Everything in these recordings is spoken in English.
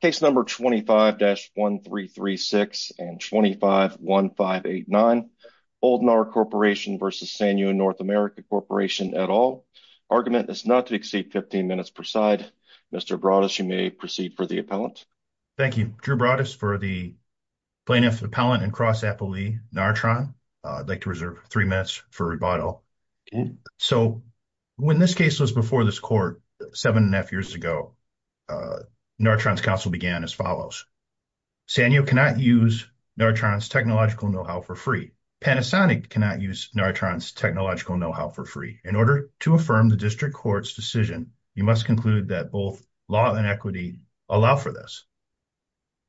Case No. 25-1336 and 25-1589 Oldnar Corp v. Sanyo NA Corp at all. Argument is not to exceed 15 minutes per side. Mr. Broadus, you may proceed for the appellant. Thank you. Drew Broadus for the plaintiff, appellant, and cross-appellee, Nartron. I'd like to reserve three minutes for rebuttal. So, when this case was before this court seven and a half years ago, Nartron's counsel began as follows. Sanyo cannot use Nartron's technological know-how for free. Panasonic cannot use Nartron's technological know-how for free. In order to affirm the district court's decision, you must conclude that both law and equity allow for this.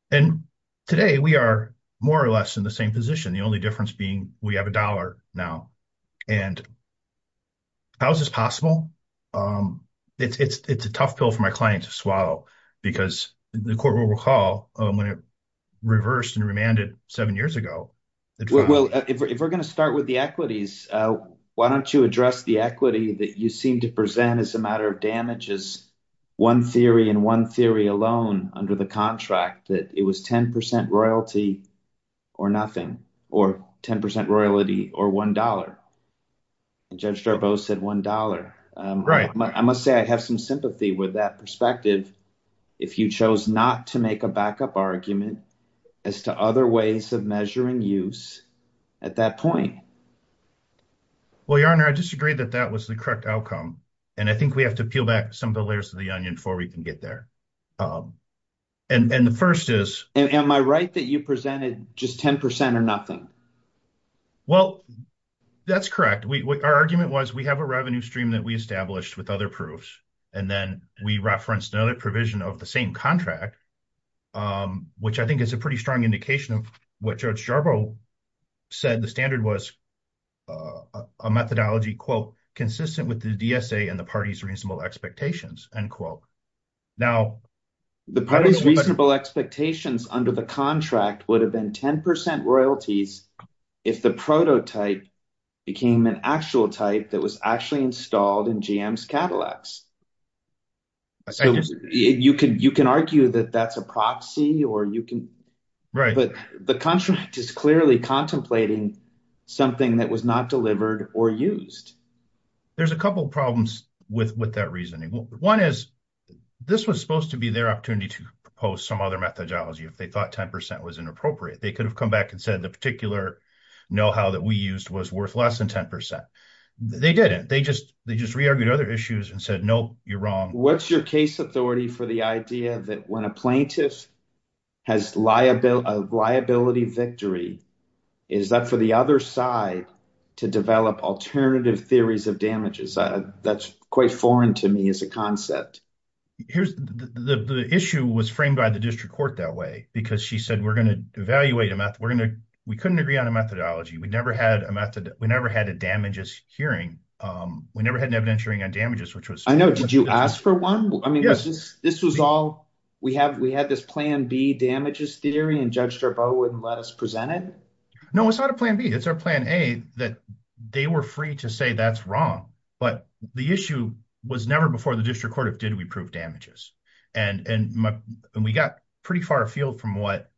And today, we are more or less in the same position, the only difference being we have a dollar now. And how is this possible? It's a tough pill for my client to swallow because the court will recall when it reversed and remanded seven years ago. Well, if we're going to start with the equities, why don't you address the equity that you seem to present as a matter of damages? One theory and one theory alone under the contract that it was 10 percent royalty or nothing or 10 percent royalty or one dollar. Judge Darbo said one dollar. I must say I have some sympathy with that perspective. If you chose not to make a backup argument as to other ways of measuring use at that point. Well, your honor, I disagree that that was the correct outcome, and I think we have to peel back some of the layers of the onion before we can get there. And the first is, am I right that you presented just 10 percent or nothing? Well, that's correct. Our argument was we have a revenue stream that we established with other proofs. And then we referenced another provision of the same contract, which I think is a pretty strong indication of what Judge Darbo said. The standard was a methodology, quote, consistent with the DSA and the party's reasonable expectations and quote. Now, the party's reasonable expectations under the contract would have been 10 percent royalties if the prototype became an actual type that was actually installed in GM's Cadillacs. You can you can argue that that's a proxy or you can. Right. But the contract is clearly contemplating something that was not delivered or used. There's a couple of problems with with that reasoning. One is this was supposed to be their opportunity to propose some other methodology if they thought 10 percent was inappropriate. They could have come back and said the particular know how that we used was worth less than 10 percent. They didn't. They just they just re-argued other issues and said, no, you're wrong. What's your case authority for the idea that when a plaintiff has liability, a liability victory, is that for the other side to develop alternative theories of damages? That's quite foreign to me as a concept. Here's the issue was framed by the district court that way because she said we're going to evaluate a math. We're going to we couldn't agree on a methodology. We never had a method. We never had a damages hearing. We never had an evidentiary damages, which was. I know. Did you ask for one? I mean, yes, this was all we have. We had this plan B damages theory and Judge Jarboe wouldn't let us present it. No, it's not a plan B. It's our plan A that they were free to say that's wrong. But the issue was never before the district court of did we prove damages? And we got pretty far afield from what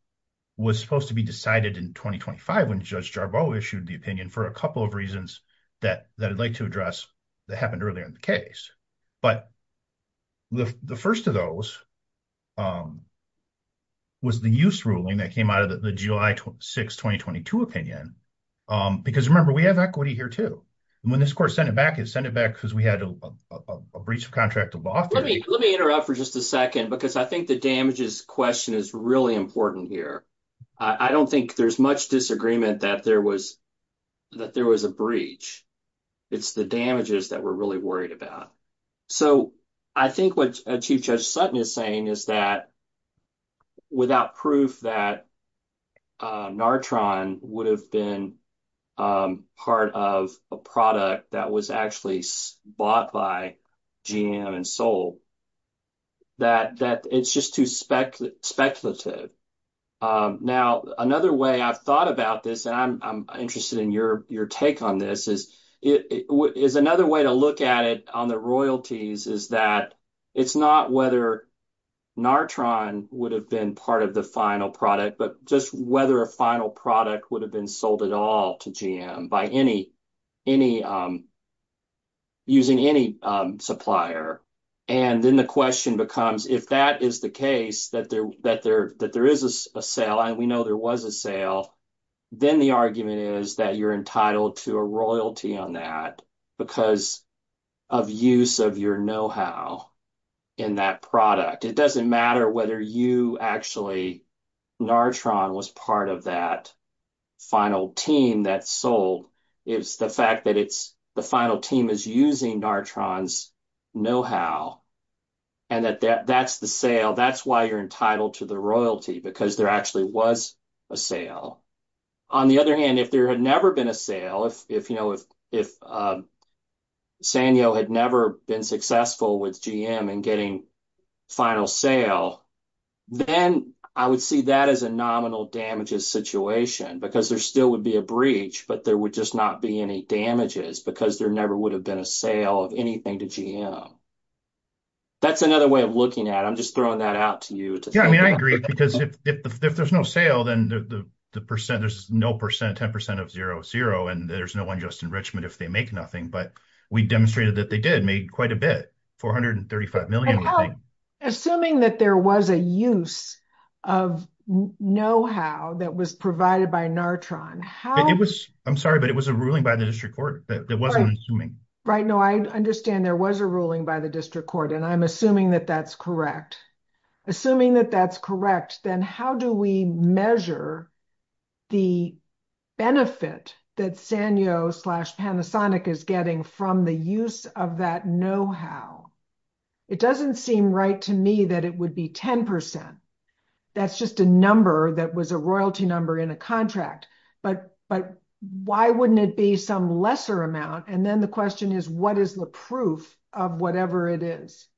was supposed to be decided in 2025 when Judge Jarboe issued the opinion for a couple of reasons that that I'd like to address that happened earlier in the case. But. The first of those. Was the use ruling that came out of the July 6, 2022 opinion, because remember, we have equity here, too. When this court sent it back, it sent it back because we had a breach of contract. Let me let me interrupt for just a 2nd, because I think the damages question is really important here. I don't think there's much disagreement that there was. That there was a breach, it's the damages that we're really worried about. So, I think what a chief judge Sutton is saying is that. Without proof that. Natron would have been. Part of a product that was actually bought by. GM and soul that that it's just too speculative. Now, another way I've thought about this, and I'm interested in your, your take on this is it is another way to look at it on the royalties is that. It's not whether Natron would have been part of the final product, but just whether a final product would have been sold at all to GM by any. Any using any supplier. And then the question becomes, if that is the case that there that there that there is a sale, and we know there was a sale. Then the argument is that you're entitled to a royalty on that. Because of use of your know how. In that product, it doesn't matter whether you actually. Natron was part of that final team that sold. It's the fact that it's the final team is using. No, how and that that's the sale. That's why you're entitled to the royalty because there actually was. A sale on the other hand, if there had never been a sale, if if, you know, if if. Samuel had never been successful with GM and getting. Final sale, then I would see that as a nominal damages situation, because there still would be a breach, but there would just not be any damages because there never would have been a sale of anything to. That's another way of looking at it. I'm just throwing that out to you. Yeah, I mean, I agree because if there's no sale, then the percent, there's no percent 10% of 0, 0 and there's no unjust enrichment if they make nothing. But we demonstrated that they did made quite a bit 435M. Assuming that there was a use of know how that was provided by Natron. How it was. I'm sorry, but it was a ruling by the district court that wasn't assuming. Right now, I understand there was a ruling by the district court and I'm assuming that that's correct. Assuming that that's correct. Then how do we measure. The benefit that Sanyo slash Panasonic is getting from the use of that know how. It doesn't seem right to me that it would be 10%. That's just a number that was a royalty number in a contract. But, but why wouldn't it be some lesser amount and then the question is what is the proof of whatever it is.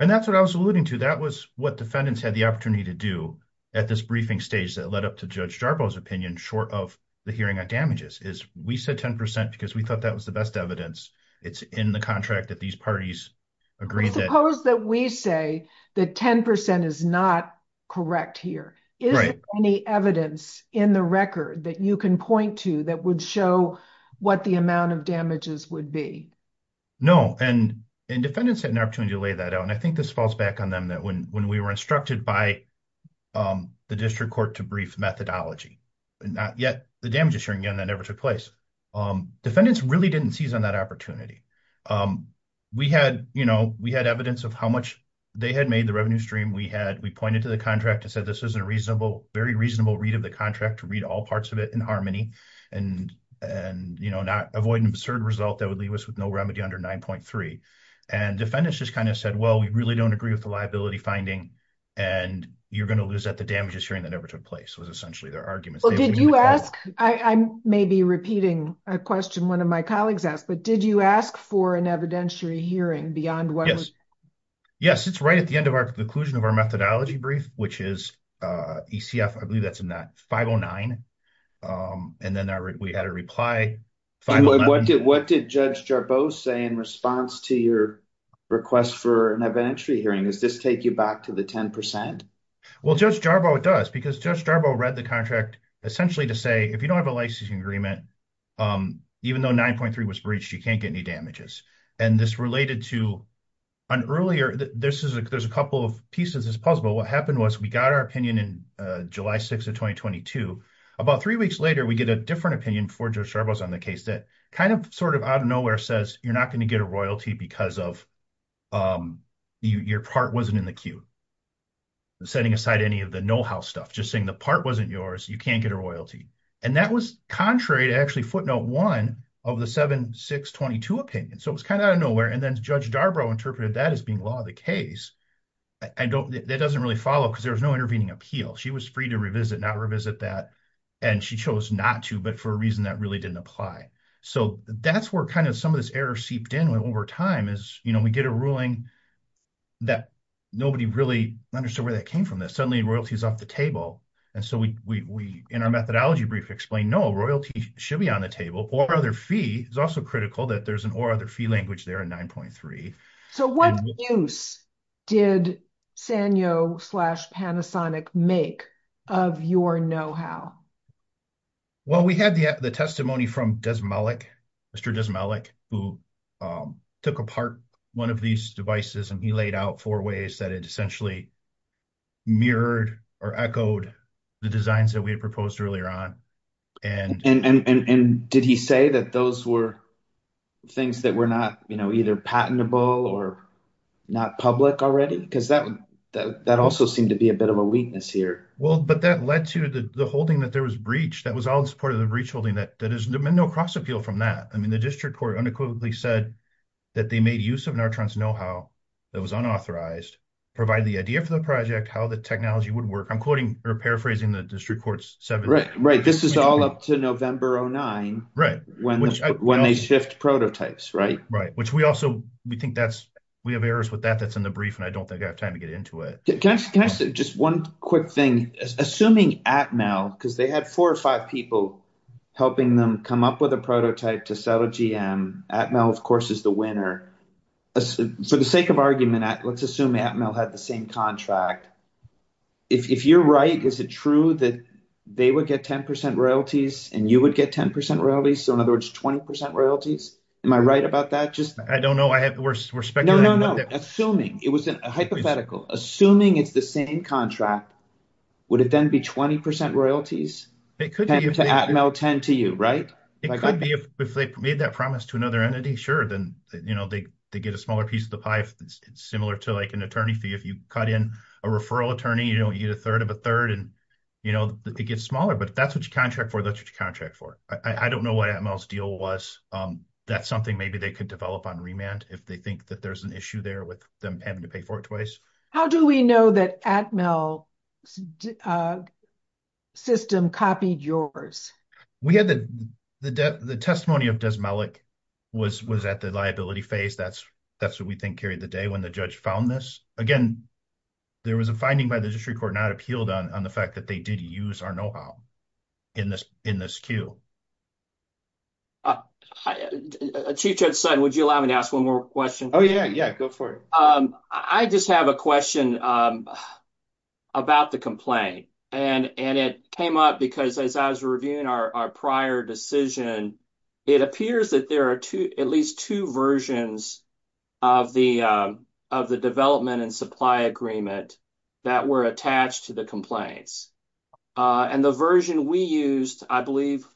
And that's what I was alluding to that was what defendants had the opportunity to do at this briefing stage that led up to judge Jarboe his opinion short of the hearing on damages is we said 10% because we thought that was the best evidence. It's in the contract that these parties agree that we say that 10% is not correct here is any evidence in the record that you can point to that would show what the amount of damages would be. No, and, and defendants had an opportunity to lay that out and I think this falls back on them that when, when we were instructed by the district court to brief methodology, and not yet the damage assuring gun that never took place. Defendants really didn't seize on that opportunity. We had, you know, we had evidence of how much they had made the revenue stream we had we pointed to the contract and said this isn't a reasonable very reasonable read of the contract to read all parts of it in harmony and and you know not avoid an absurd result that would leave us with no remedy under 9.3 and defendants just kind of said well we really don't agree with the liability finding, and you're going to lose that the damages hearing that ever took place was essentially their arguments. Well, did you ask, I may be repeating a question one of my colleagues asked but did you ask for an evidentiary hearing beyond what. Yes, it's right at the end of our conclusion of our methodology brief, which is ECF I believe that's in that 509. And then we had a reply. What did what did Judge Jarboe say in response to your request for an evidentiary hearing is this take you back to the 10%. Well just Jarboe does because just Jarboe read the contract, essentially to say if you don't have a licensing agreement. Even though 9.3 was breached you can't get any damages. And this related to an earlier, this is a, there's a couple of pieces as possible what happened was we got our opinion in July 6 of 2022. About three weeks later we get a different opinion for Jarboe on the case that kind of sort of out of nowhere says, you're not going to get a royalty because of your part wasn't in the queue. Setting aside any of the know how stuff just saying the part wasn't yours, you can't get a royalty. And that was contrary to actually footnote one of the 7622 opinion so it was kind of nowhere and then Judge Jarboe interpreted that as being law of the case. I don't, that doesn't really follow because there was no intervening appeal she was free to revisit not revisit that. And she chose not to but for a reason that really didn't apply. So that's where kind of some of this error seeped in over time is, you know, we get a ruling that nobody really understood where that came from that suddenly royalties off the table. And so we in our methodology brief explained no royalty should be on the table or other fee is also critical that there's an or other fee language there in 9.3. So what use did Sanyo slash Panasonic make of your know how. Well, we had the testimony from does Malik, Mr does Malik, who took apart, one of these devices and he laid out four ways that it essentially mirrored or echoed the designs that we had proposed earlier on. And, and did he say that those were things that were not, you know, either patentable or not public already because that that also seemed to be a bit of a weakness here. Well, but that led to the holding that there was breach that was all in support of the breach holding that that is no cross appeal from that. I mean, the district court unequivocally said that they made use of our trans know how that was unauthorized provide the idea for the project how the technology would work I'm quoting or paraphrasing the district courts. Right, right. This is all up to November 09 right when when they shift prototypes right right which we also, we think that's we have errors with that that's in the brief and I don't think I have time to get into it. Can I just one quick thing, assuming at Mel, because they had four or five people, helping them come up with a prototype to sell a GM at Mel, of course, is the winner. For the sake of argument at let's assume at Mel had the same contract. If you're right, is it true that they would get 10% royalties, and you would get 10% really so in other words 20% royalties. Am I right about that just I don't know I have the worst respect. Assuming it was a hypothetical, assuming it's the same contract. Would it then be 20% royalties. It could be 10 to you right. It could be if they made that promise to another entity. Sure. Then, you know, they, they get a smaller piece of the pie. It's similar to like an attorney fee if you cut in a referral attorney, you know, you get a third of a third and, you know, it gets smaller but that's what you contract for that you contract for. I don't know why I'm else deal was that something maybe they could develop on remand, if they think that there's an issue there with them having to pay for it twice. How do we know that at Mel system copied yours. We had the, the, the testimony of does Malik was was at the liability phase that's that's what we think carried the day when the judge found this again. There was a finding by the district court not appealed on the fact that they did use our know how. In this, in this queue, a teacher said, would you allow me to ask 1 more question? Oh, yeah. Yeah. Go for it. I just have a question. About the complaint, and it came up because as I was reviewing our prior decision. It appears that there are 2, at least 2 versions of the of the development and supply agreement that were attached to the complaints. And the version we used, I believe,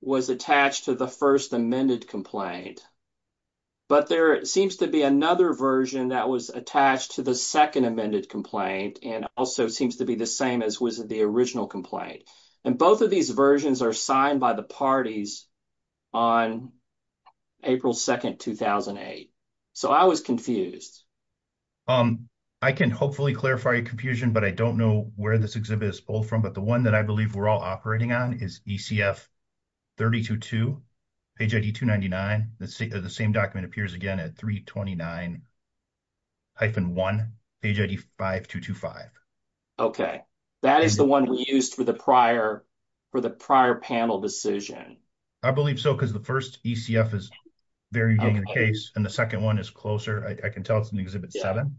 was attached to the 1st amended complaint. But there seems to be another version that was attached to the 2nd amended complaint and also seems to be the same as was the original complaint. And both of these versions are signed by the parties. On April 2nd, 2008. So, I was confused. I can hopefully clarify your confusion, but I don't know where this exhibit is all from, but the 1 that I believe we're all operating on is. 32 to page 299, the same document appears again at 329. I've been 1 page 5 to 5. Okay, that is the 1 we used for the prior. For the prior panel decision. I believe so, because the 1st is very case and the 2nd 1 is closer. I can tell it's an exhibit 7.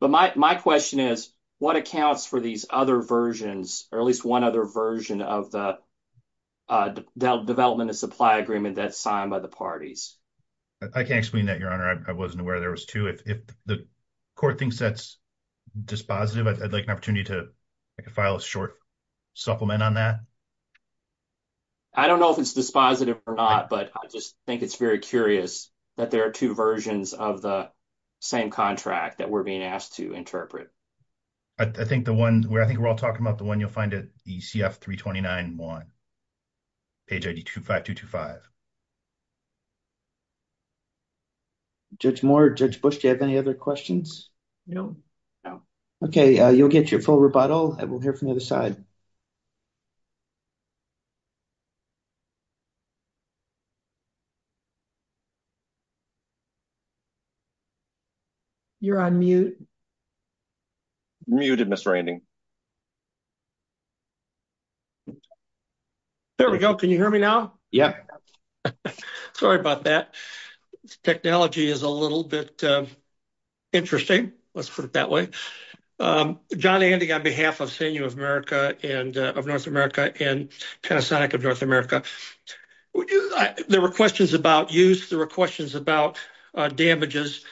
But my, my question is what accounts for these other versions, or at least 1 other version of the. Development and supply agreement that's signed by the parties. I can't explain that your honor I wasn't aware there was 2 if the. Court thinks that's dispositive I'd like an opportunity to. I can file a short supplement on that. I don't know if it's dispositive or not, but I just think it's very curious that there are 2 versions of the. Same contract that we're being asked to interpret. I think the 1 where I think we're all talking about the 1, you'll find it the 329 1. Page 2 to 5. Judge more judge Bush, do you have any other questions? No, no. Okay. You'll get your full rebuttal. I will hear from the other side. Okay. You're on mute. There we go. Can you hear me now? Yeah. Sorry about that. Okay. Technology is a little bit. Interesting. Let's put it that way. John Andy, on behalf of senior of America and of North America and kind of sonic of North America. There were questions about use. There were questions about damages.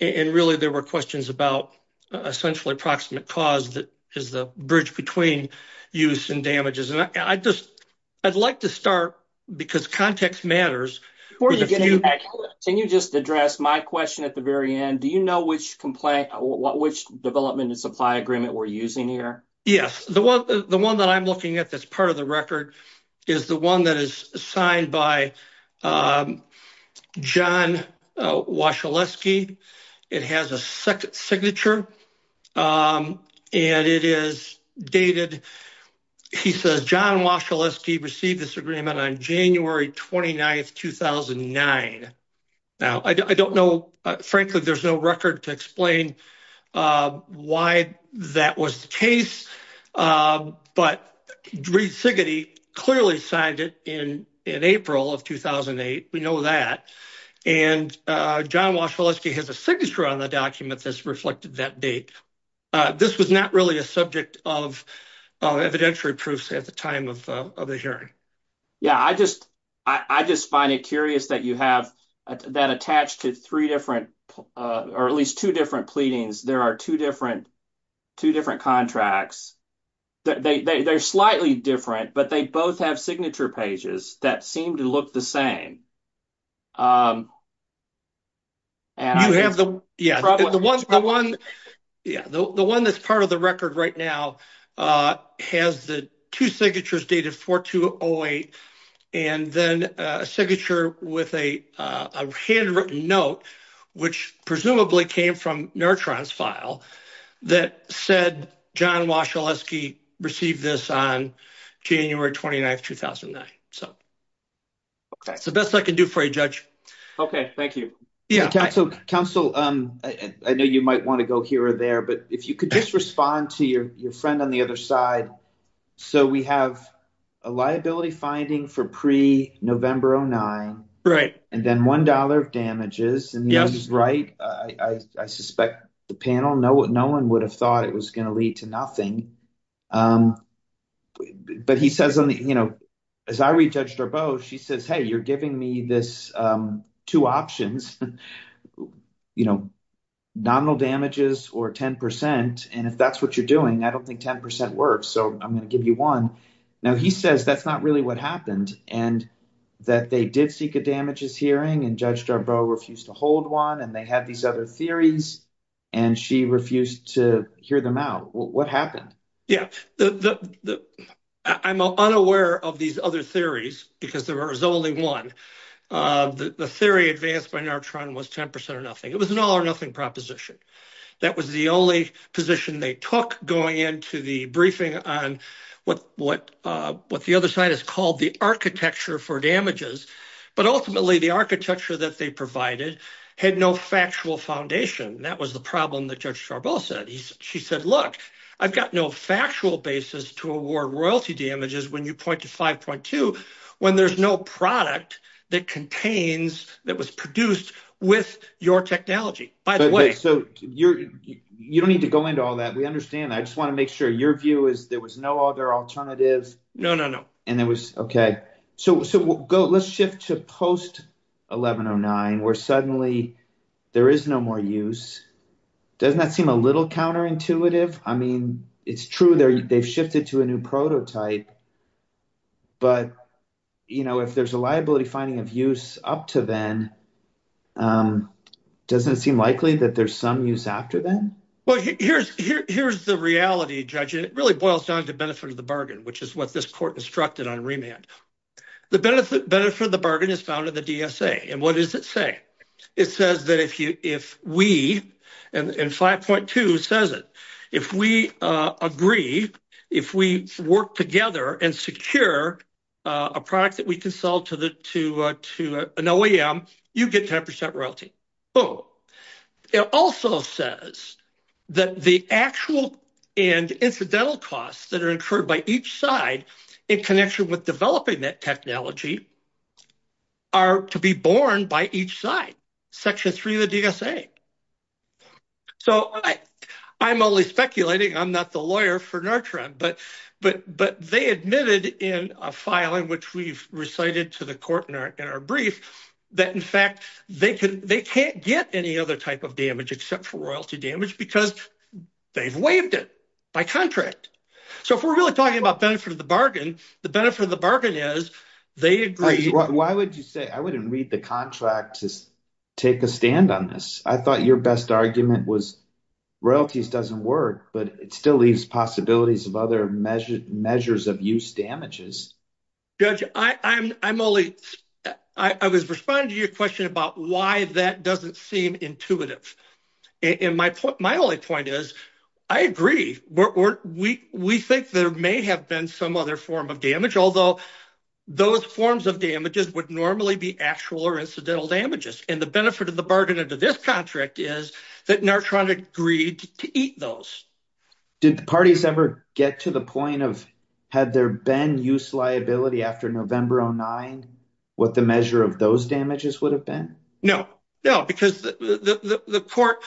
And really, there were questions about essentially approximate cause. And then there were questions about, you know, what is the bridge between use and damages? And I just, I'd like to start because context matters. Can you just address my question at the very end? Do you know which complaint? What, which development and supply agreement we're using here? Yes. The 1 that I'm looking at, that's part of the record is the 1 that is assigned by. John, it has a second signature. And it is dated. He says, John, he received this agreement on January 29th, 2009. Now, I don't know, frankly, there's no record to explain why that was the case. But clearly signed it in April of 2008. We know that. And John has a signature on the document that's reflected that date. This was not really a subject of evidentiary proofs at the time of the hearing. Yeah, I just, I just find it curious that you have that attached to 3 different or at least 2 different pleadings. There are 2 different, 2 different contracts. They're slightly different, but they both have signature pages that seem to look the same. And I have the 1, the 1. Yeah, the 1 that's part of the record right now has the 2 signatures dated 4 to 08. And then a signature with a handwritten note, which presumably came from neurotrans file that said, John was received this on January 29th, 2009. So. Okay, so that's what I can do for a judge. Okay. Thank you. Yeah, council council. I know you might want to go here or there, but if you could just respond to your friend on the other side. So, we have a liability finding for pre November. Oh, 9. right. And then 1 dollar of damages and he's right. I suspect the panel know what no 1 would have thought it was going to lead to nothing. Um, but he says, you know. As I read judged or both, she says, hey, you're giving me this 2 options. You know, Donald damages or 10% and if that's what you're doing, I don't think 10% works. So I'm going to give you 1. now. He says that's not really what happened and that they did seek a damages hearing and judge refused to hold 1 and they had these other theories. And she refused to hear them out. What happened? Yeah, I'm unaware of these other theories, because there is only 1. The theory advanced by was 10% or nothing. It was an all or nothing proposition. That was the only position they took going into the briefing on what what what the other side is called the architecture for damages. But ultimately, the architecture that they provided had no factual foundation. That was the problem that judge said. She said, look, I've got no factual basis to award royalty damages when you point to 5.2 when there's no product that contains that was produced with your technology. By the way, so you don't need to go into all that. We understand. I just want to make sure your view is there was no other alternatives. No, no, no. And it was okay. So, so we'll go. Let's shift to post. 1109, where suddenly there is no more use. Doesn't that seem a little counterintuitive? I mean, it's true there. They've shifted to a new prototype. But, you know, if there's a liability finding of use up to then. Doesn't seem likely that there's some use after that. Well, here's here's the reality. Judging it really boils down to benefit of the bargain, which is what this court instructed on remand. The benefit benefit of the bargain is found in the DSA and what does it say? It says that if you if we and 5.2 says it, if we agree, if we work together and secure a product that we can sell to the to to an OEM, you get 10% royalty. It also says that the actual and incidental costs that are incurred by each side in connection with developing that technology are to be born by each side. Section 3 of the DSA. So, I'm only speculating. I'm not the lawyer for Nartran, but, but, but they admitted in a file in which we've recited to the court in our brief that, in fact, they can they can't get any other type of damage except for royalty damage because they've waived it by contract. So, if we're really talking about benefit of the bargain, the benefit of the bargain is they agree. Why would you say I wouldn't read the contract to take a stand on this? I thought your best argument was royalties doesn't work, but it still leaves possibilities of other measured measures of use damages. Judge, I'm I'm only I was responding to your question about why that doesn't seem intuitive. And my my only point is, I agree. We think there may have been some other form of damage, although those forms of damages would normally be actual or incidental damages. And the benefit of the bargain into this contract is that Nartran agreed to eat those. Did the parties ever get to the point of had there been use liability after November? Oh, nine. What the measure of those damages would have been? No, no, because the court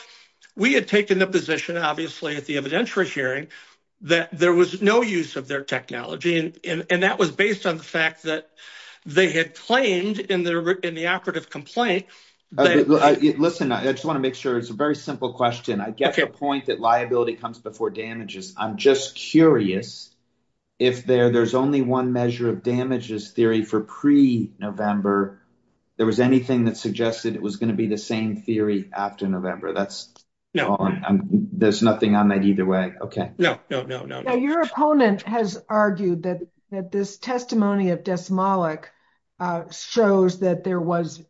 we had taken the position, obviously, at the evidentiary hearing that there was no use of their technology. And that was based on the fact that they had claimed in the in the operative complaint. Listen, I just want to make sure it's a very simple question. I get your point that liability comes before damages. I'm just curious if there there's only one measure of damages theory for pre November. There was anything that suggested it was going to be the same theory after November. That's there's nothing on that either way. OK, no, no, no, no, no. Your opponent has argued that that this testimony of Desmolik shows that there was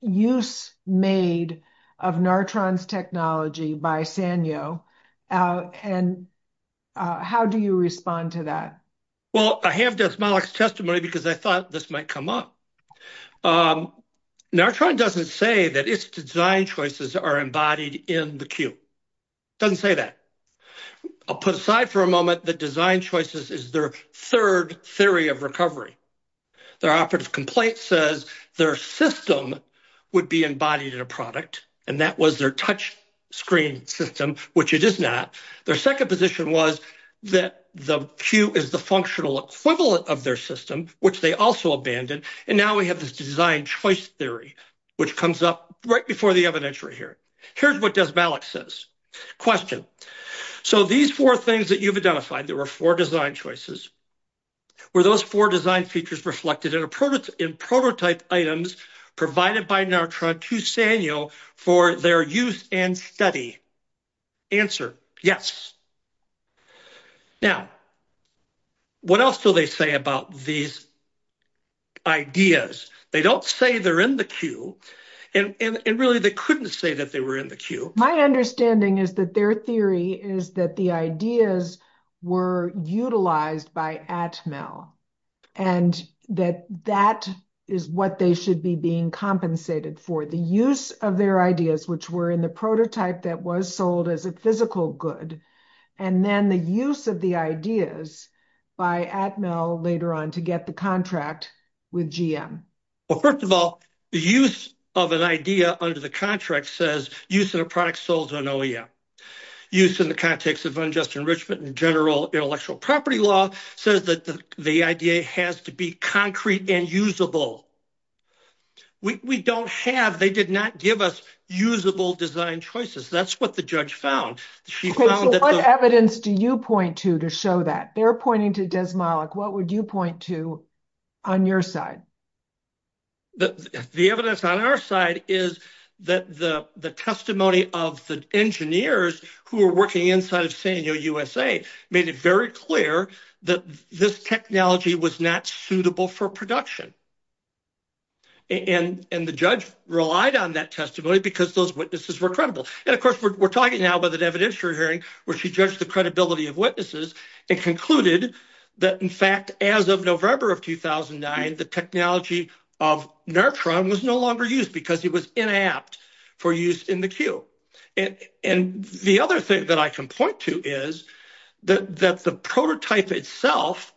use made of Nartran's technology by Sanyo. And how do you respond to that? Well, I have just my testimony because I thought this might come up. Nartran doesn't say that its design choices are embodied in the queue. Doesn't say that. I'll put aside for a moment that design choices is their third theory of recovery. Their operative complaint says their system would be embodied in a product. And that was their touch screen system, which it is not. Their second position was that the queue is the functional equivalent of their system, which they also abandoned. And now we have this design choice theory, which comes up right before the evidentiary here. Here's what Desmolik says. Question. So these four things that you've identified, there were four design choices. Were those four design features reflected in a prototype in prototype items provided by Nartran to Sanyo for their use and study? Answer. Yes. Now, what else do they say about these ideas? They don't say they're in the queue. And really, they couldn't say that they were in the queue. My understanding is that their theory is that the ideas were utilized by Atmel and that that is what they should be being compensated for. The use of their ideas, which were in the prototype that was sold as a physical good. And then the use of the ideas by Atmel later on to get the contract with GM. Well, first of all, the use of an idea under the contract says use of a product sold on OEM. Use in the context of unjust enrichment and general intellectual property law says that the idea has to be concrete and usable. We don't have they did not give us usable design choices. That's what the judge found. She found that what evidence do you point to to show that they're pointing to Desmolik? What would you point to on your side? The evidence on our side is that the testimony of the engineers who are working inside of San Diego, USA, made it very clear that this technology was not suitable for production. And and the judge relied on that testimony because those witnesses were credible. And, of course, we're talking now about that evidentiary hearing where she judged the credibility of witnesses and concluded that, in fact, as of November of 2009, the technology of Natron was no longer used because it was inapt for use in the queue. And the other thing that I can point to is that the prototype itself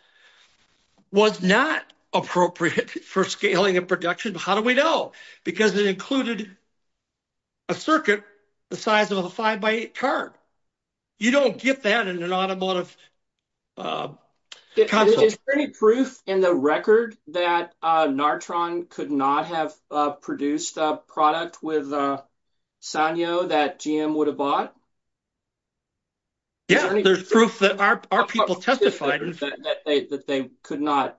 was not appropriate for scaling and production. How do we know? Because it included a circuit the size of a 5 by 8 car. You don't get that in an automotive. Is there any proof in the record that Natron could not have produced a product with Sanyo that GM would have bought? Yeah, there's proof that our people testified that they could not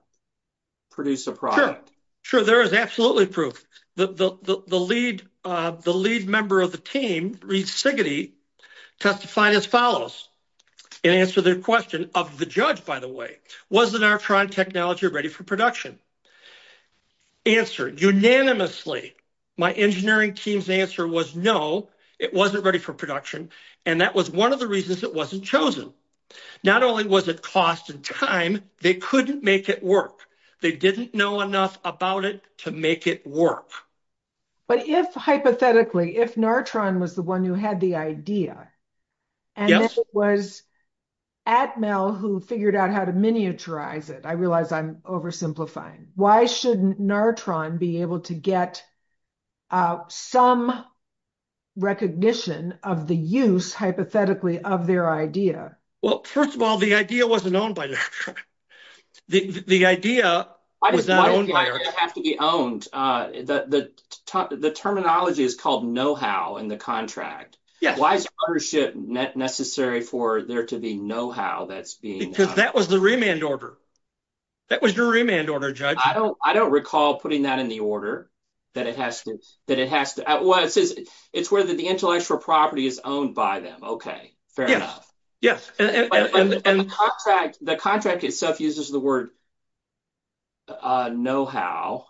produce a product. Sure, there is absolutely proof that the lead the lead member of the team, Reed Sigaty, testified as follows. And answer their question of the judge, by the way, was the Natron technology ready for production? Answered unanimously. My engineering team's answer was no, it wasn't ready for production. And that was one of the reasons it wasn't chosen. Not only was it cost and time, they couldn't make it work. They didn't know enough about it to make it work. But if hypothetically, if Natron was the one who had the idea. And it was Atmel who figured out how to miniaturize it. I realize I'm oversimplifying. Why shouldn't Natron be able to get some recognition of the use, hypothetically, of their idea? Well, first of all, the idea wasn't owned by Natron. The idea was not owned by us. Why does the idea have to be owned? The terminology is called know-how in the contract. Yes. Why is ownership necessary for there to be know-how that's being. Because that was the remand order. That was the remand order, Judge. I don't recall putting that in the order, that it has to. Well, it says it's where the intellectual property is owned by them. Okay, fair enough. Yes. The contract itself uses the word know-how.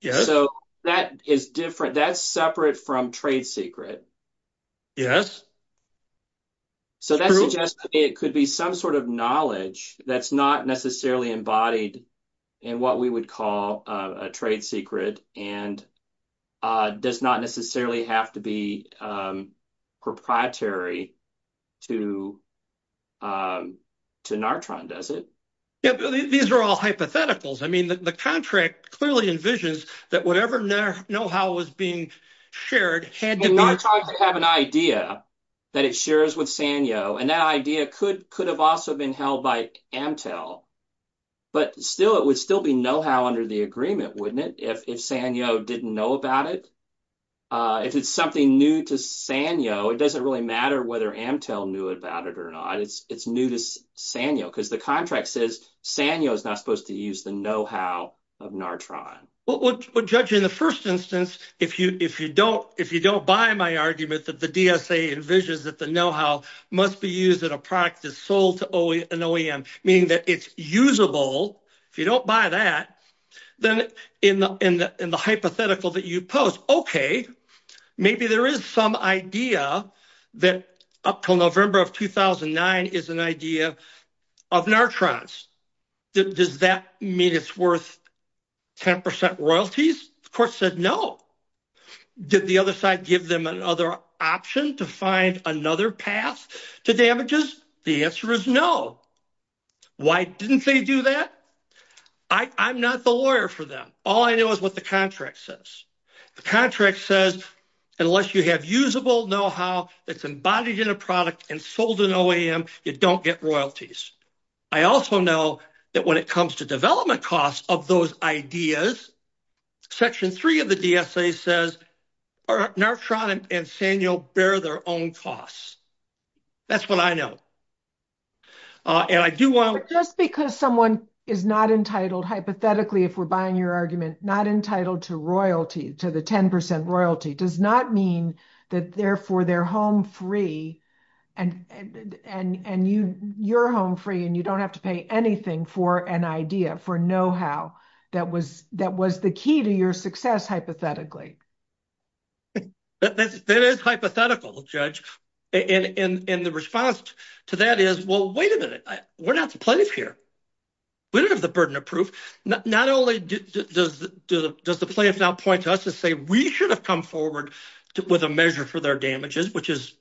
Yes. So that is different. That's separate from trade secret. Yes. So that suggests it could be some sort of knowledge that's not necessarily embodied in what we would call a trade secret. And does not necessarily have to be proprietary to Natron, does it? Yes. These are all hypotheticals. I mean, the contract clearly envisions that whatever know-how was being shared had to be. Natron could have an idea that it shares with Sanyo. And that idea could have also been held by Amtel. But still, it would still be know-how under the agreement, wouldn't it, if Sanyo didn't know about it? If it's something new to Sanyo, it doesn't really matter whether Amtel knew about it or not. It's new to Sanyo. Because the contract says Sanyo is not supposed to use the know-how of Natron. Well, Judge, in the first instance, if you don't buy my argument that the DSA envisions that the know-how must be used in a product that's sold to an OEM, meaning that it's usable, if you don't buy that, then in the hypothetical that you pose, okay, maybe there is some idea that up till November of 2009 is an idea of Natron's. Does that mean it's worth 10% royalties? The court said no. Did the other side give them another option to find another path to damages? The answer is no. Why didn't they do that? I'm not the lawyer for them. All I know is what the contract says. The contract says unless you have usable know-how that's embodied in a product and sold to an OEM, you don't get royalties. I also know that when it comes to development costs of those ideas, Section 3 of the DSA says Natron and Sanyo bear their own costs. That's what I know. Just because someone is not entitled, hypothetically, if we're buying your argument, not entitled to royalty, to the 10% royalty, does not mean that therefore they're home free and you're home free and you don't have to pay anything for an idea, for know-how, that was the key to your success, hypothetically. That is hypothetical, Judge. And the response to that is, well, wait a minute. We're not the plaintiff here. We don't have the burden of proof. Not only does the plaintiff now point to us and say we should have come forward with a measure for their damages, which is,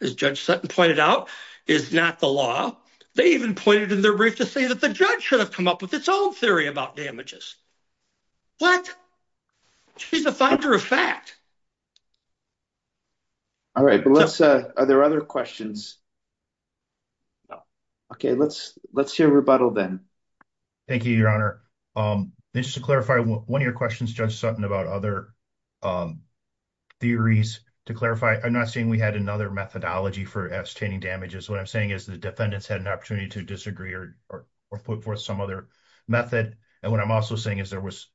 as Judge Sutton pointed out, is not the law. They even pointed in their brief to say that the judge should have come up with its own theory about damages. What? She's a finder of fact. All right. Melissa, are there other questions? No. Okay. Let's hear rebuttal then. Thank you, Your Honor. Just to clarify, one of your questions, Judge Sutton, about other theories, to clarify, I'm not saying we had another methodology for ascertaining damages. What I'm saying is the defendants had an opportunity to disagree or put forth some other method. And what I'm also saying is there was,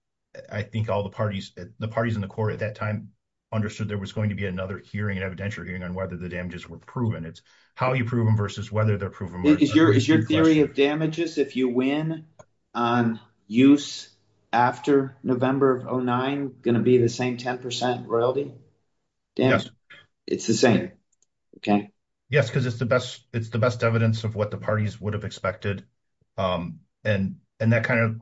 I think all the parties, the parties in the court at that time understood there was going to be another hearing, evidentiary hearing, on whether the damages were proven. It's how you prove them versus whether they're proven. Is your theory of damages, if you win on use after November of 2009, going to be the same 10% royalty? Yes. It's the same. Okay. Yes, because it's the best, it's the best evidence of what the parties would have expected. And that kind of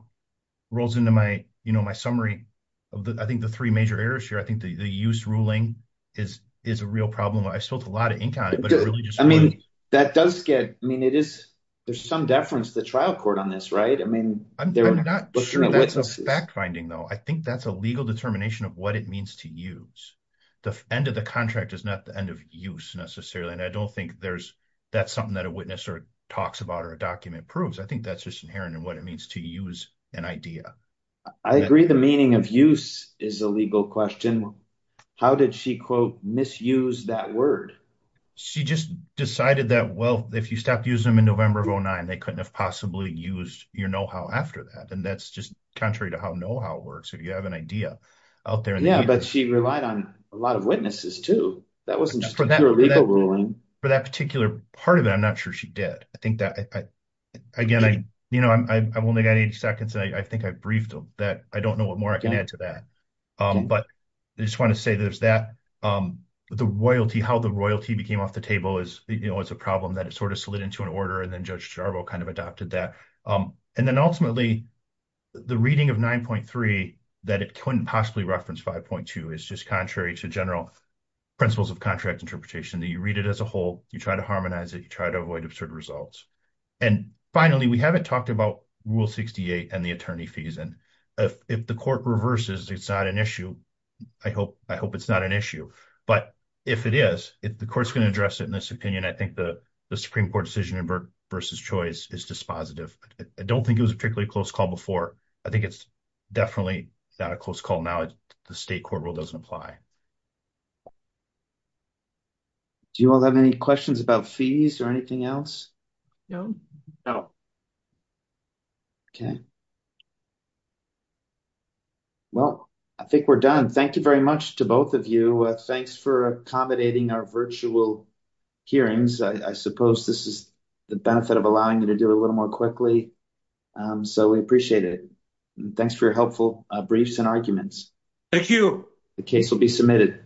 rolls into my, you know, my summary of the, I think the three major errors here. I think the use ruling is a real problem. I spilled a lot of ink on it. I mean, that does get, I mean, it is, there's some deference to the trial court on this, right? I mean, I'm not sure that's a fact finding, though. I think that's a legal determination of what it means to use. The end of the contract is not the end of use, necessarily. And I don't think there's, that's something that a witness or talks about or a document proves. I think that's just inherent in what it means to use an idea. I agree the meaning of use is a legal question. How did she, quote, misuse that word? She just decided that, well, if you stopped using them in November of 2009, they couldn't have possibly used your know-how after that. And that's just contrary to how know-how works, if you have an idea out there. Yeah, but she relied on a lot of witnesses, too. That wasn't just a pure legal ruling. For that particular part of it, I'm not sure she did. I think that, again, you know, I've only got 80 seconds, and I think I've briefed them. I don't know what more I can add to that. But I just want to say there's that. The royalty, how the royalty became off the table is, you know, it's a problem that it sort of slid into an order, and then Judge Jarboe kind of adopted that. And then, ultimately, the reading of 9.3, that it couldn't possibly reference 5.2, is just contrary to general principles of contract interpretation. You read it as a whole. You try to harmonize it. You try to avoid absurd results. And finally, we haven't talked about Rule 68 and the attorney fees. If the court reverses, it's not an issue. I hope it's not an issue. But if it is, if the court's going to address it in this opinion, I think the Supreme Court decision versus choice is dispositive. I don't think it was a particularly close call before. I think it's definitely not a close call now. The state court rule doesn't apply. Do you all have any questions about fees or anything else? No. No. Okay. Well, I think we're done. Thank you very much to both of you. Thanks for accommodating our virtual hearings. I suppose this is the benefit of allowing you to do it a little more quickly, so we appreciate it. Thanks for your helpful briefs and arguments. Thank you. The case will be submitted.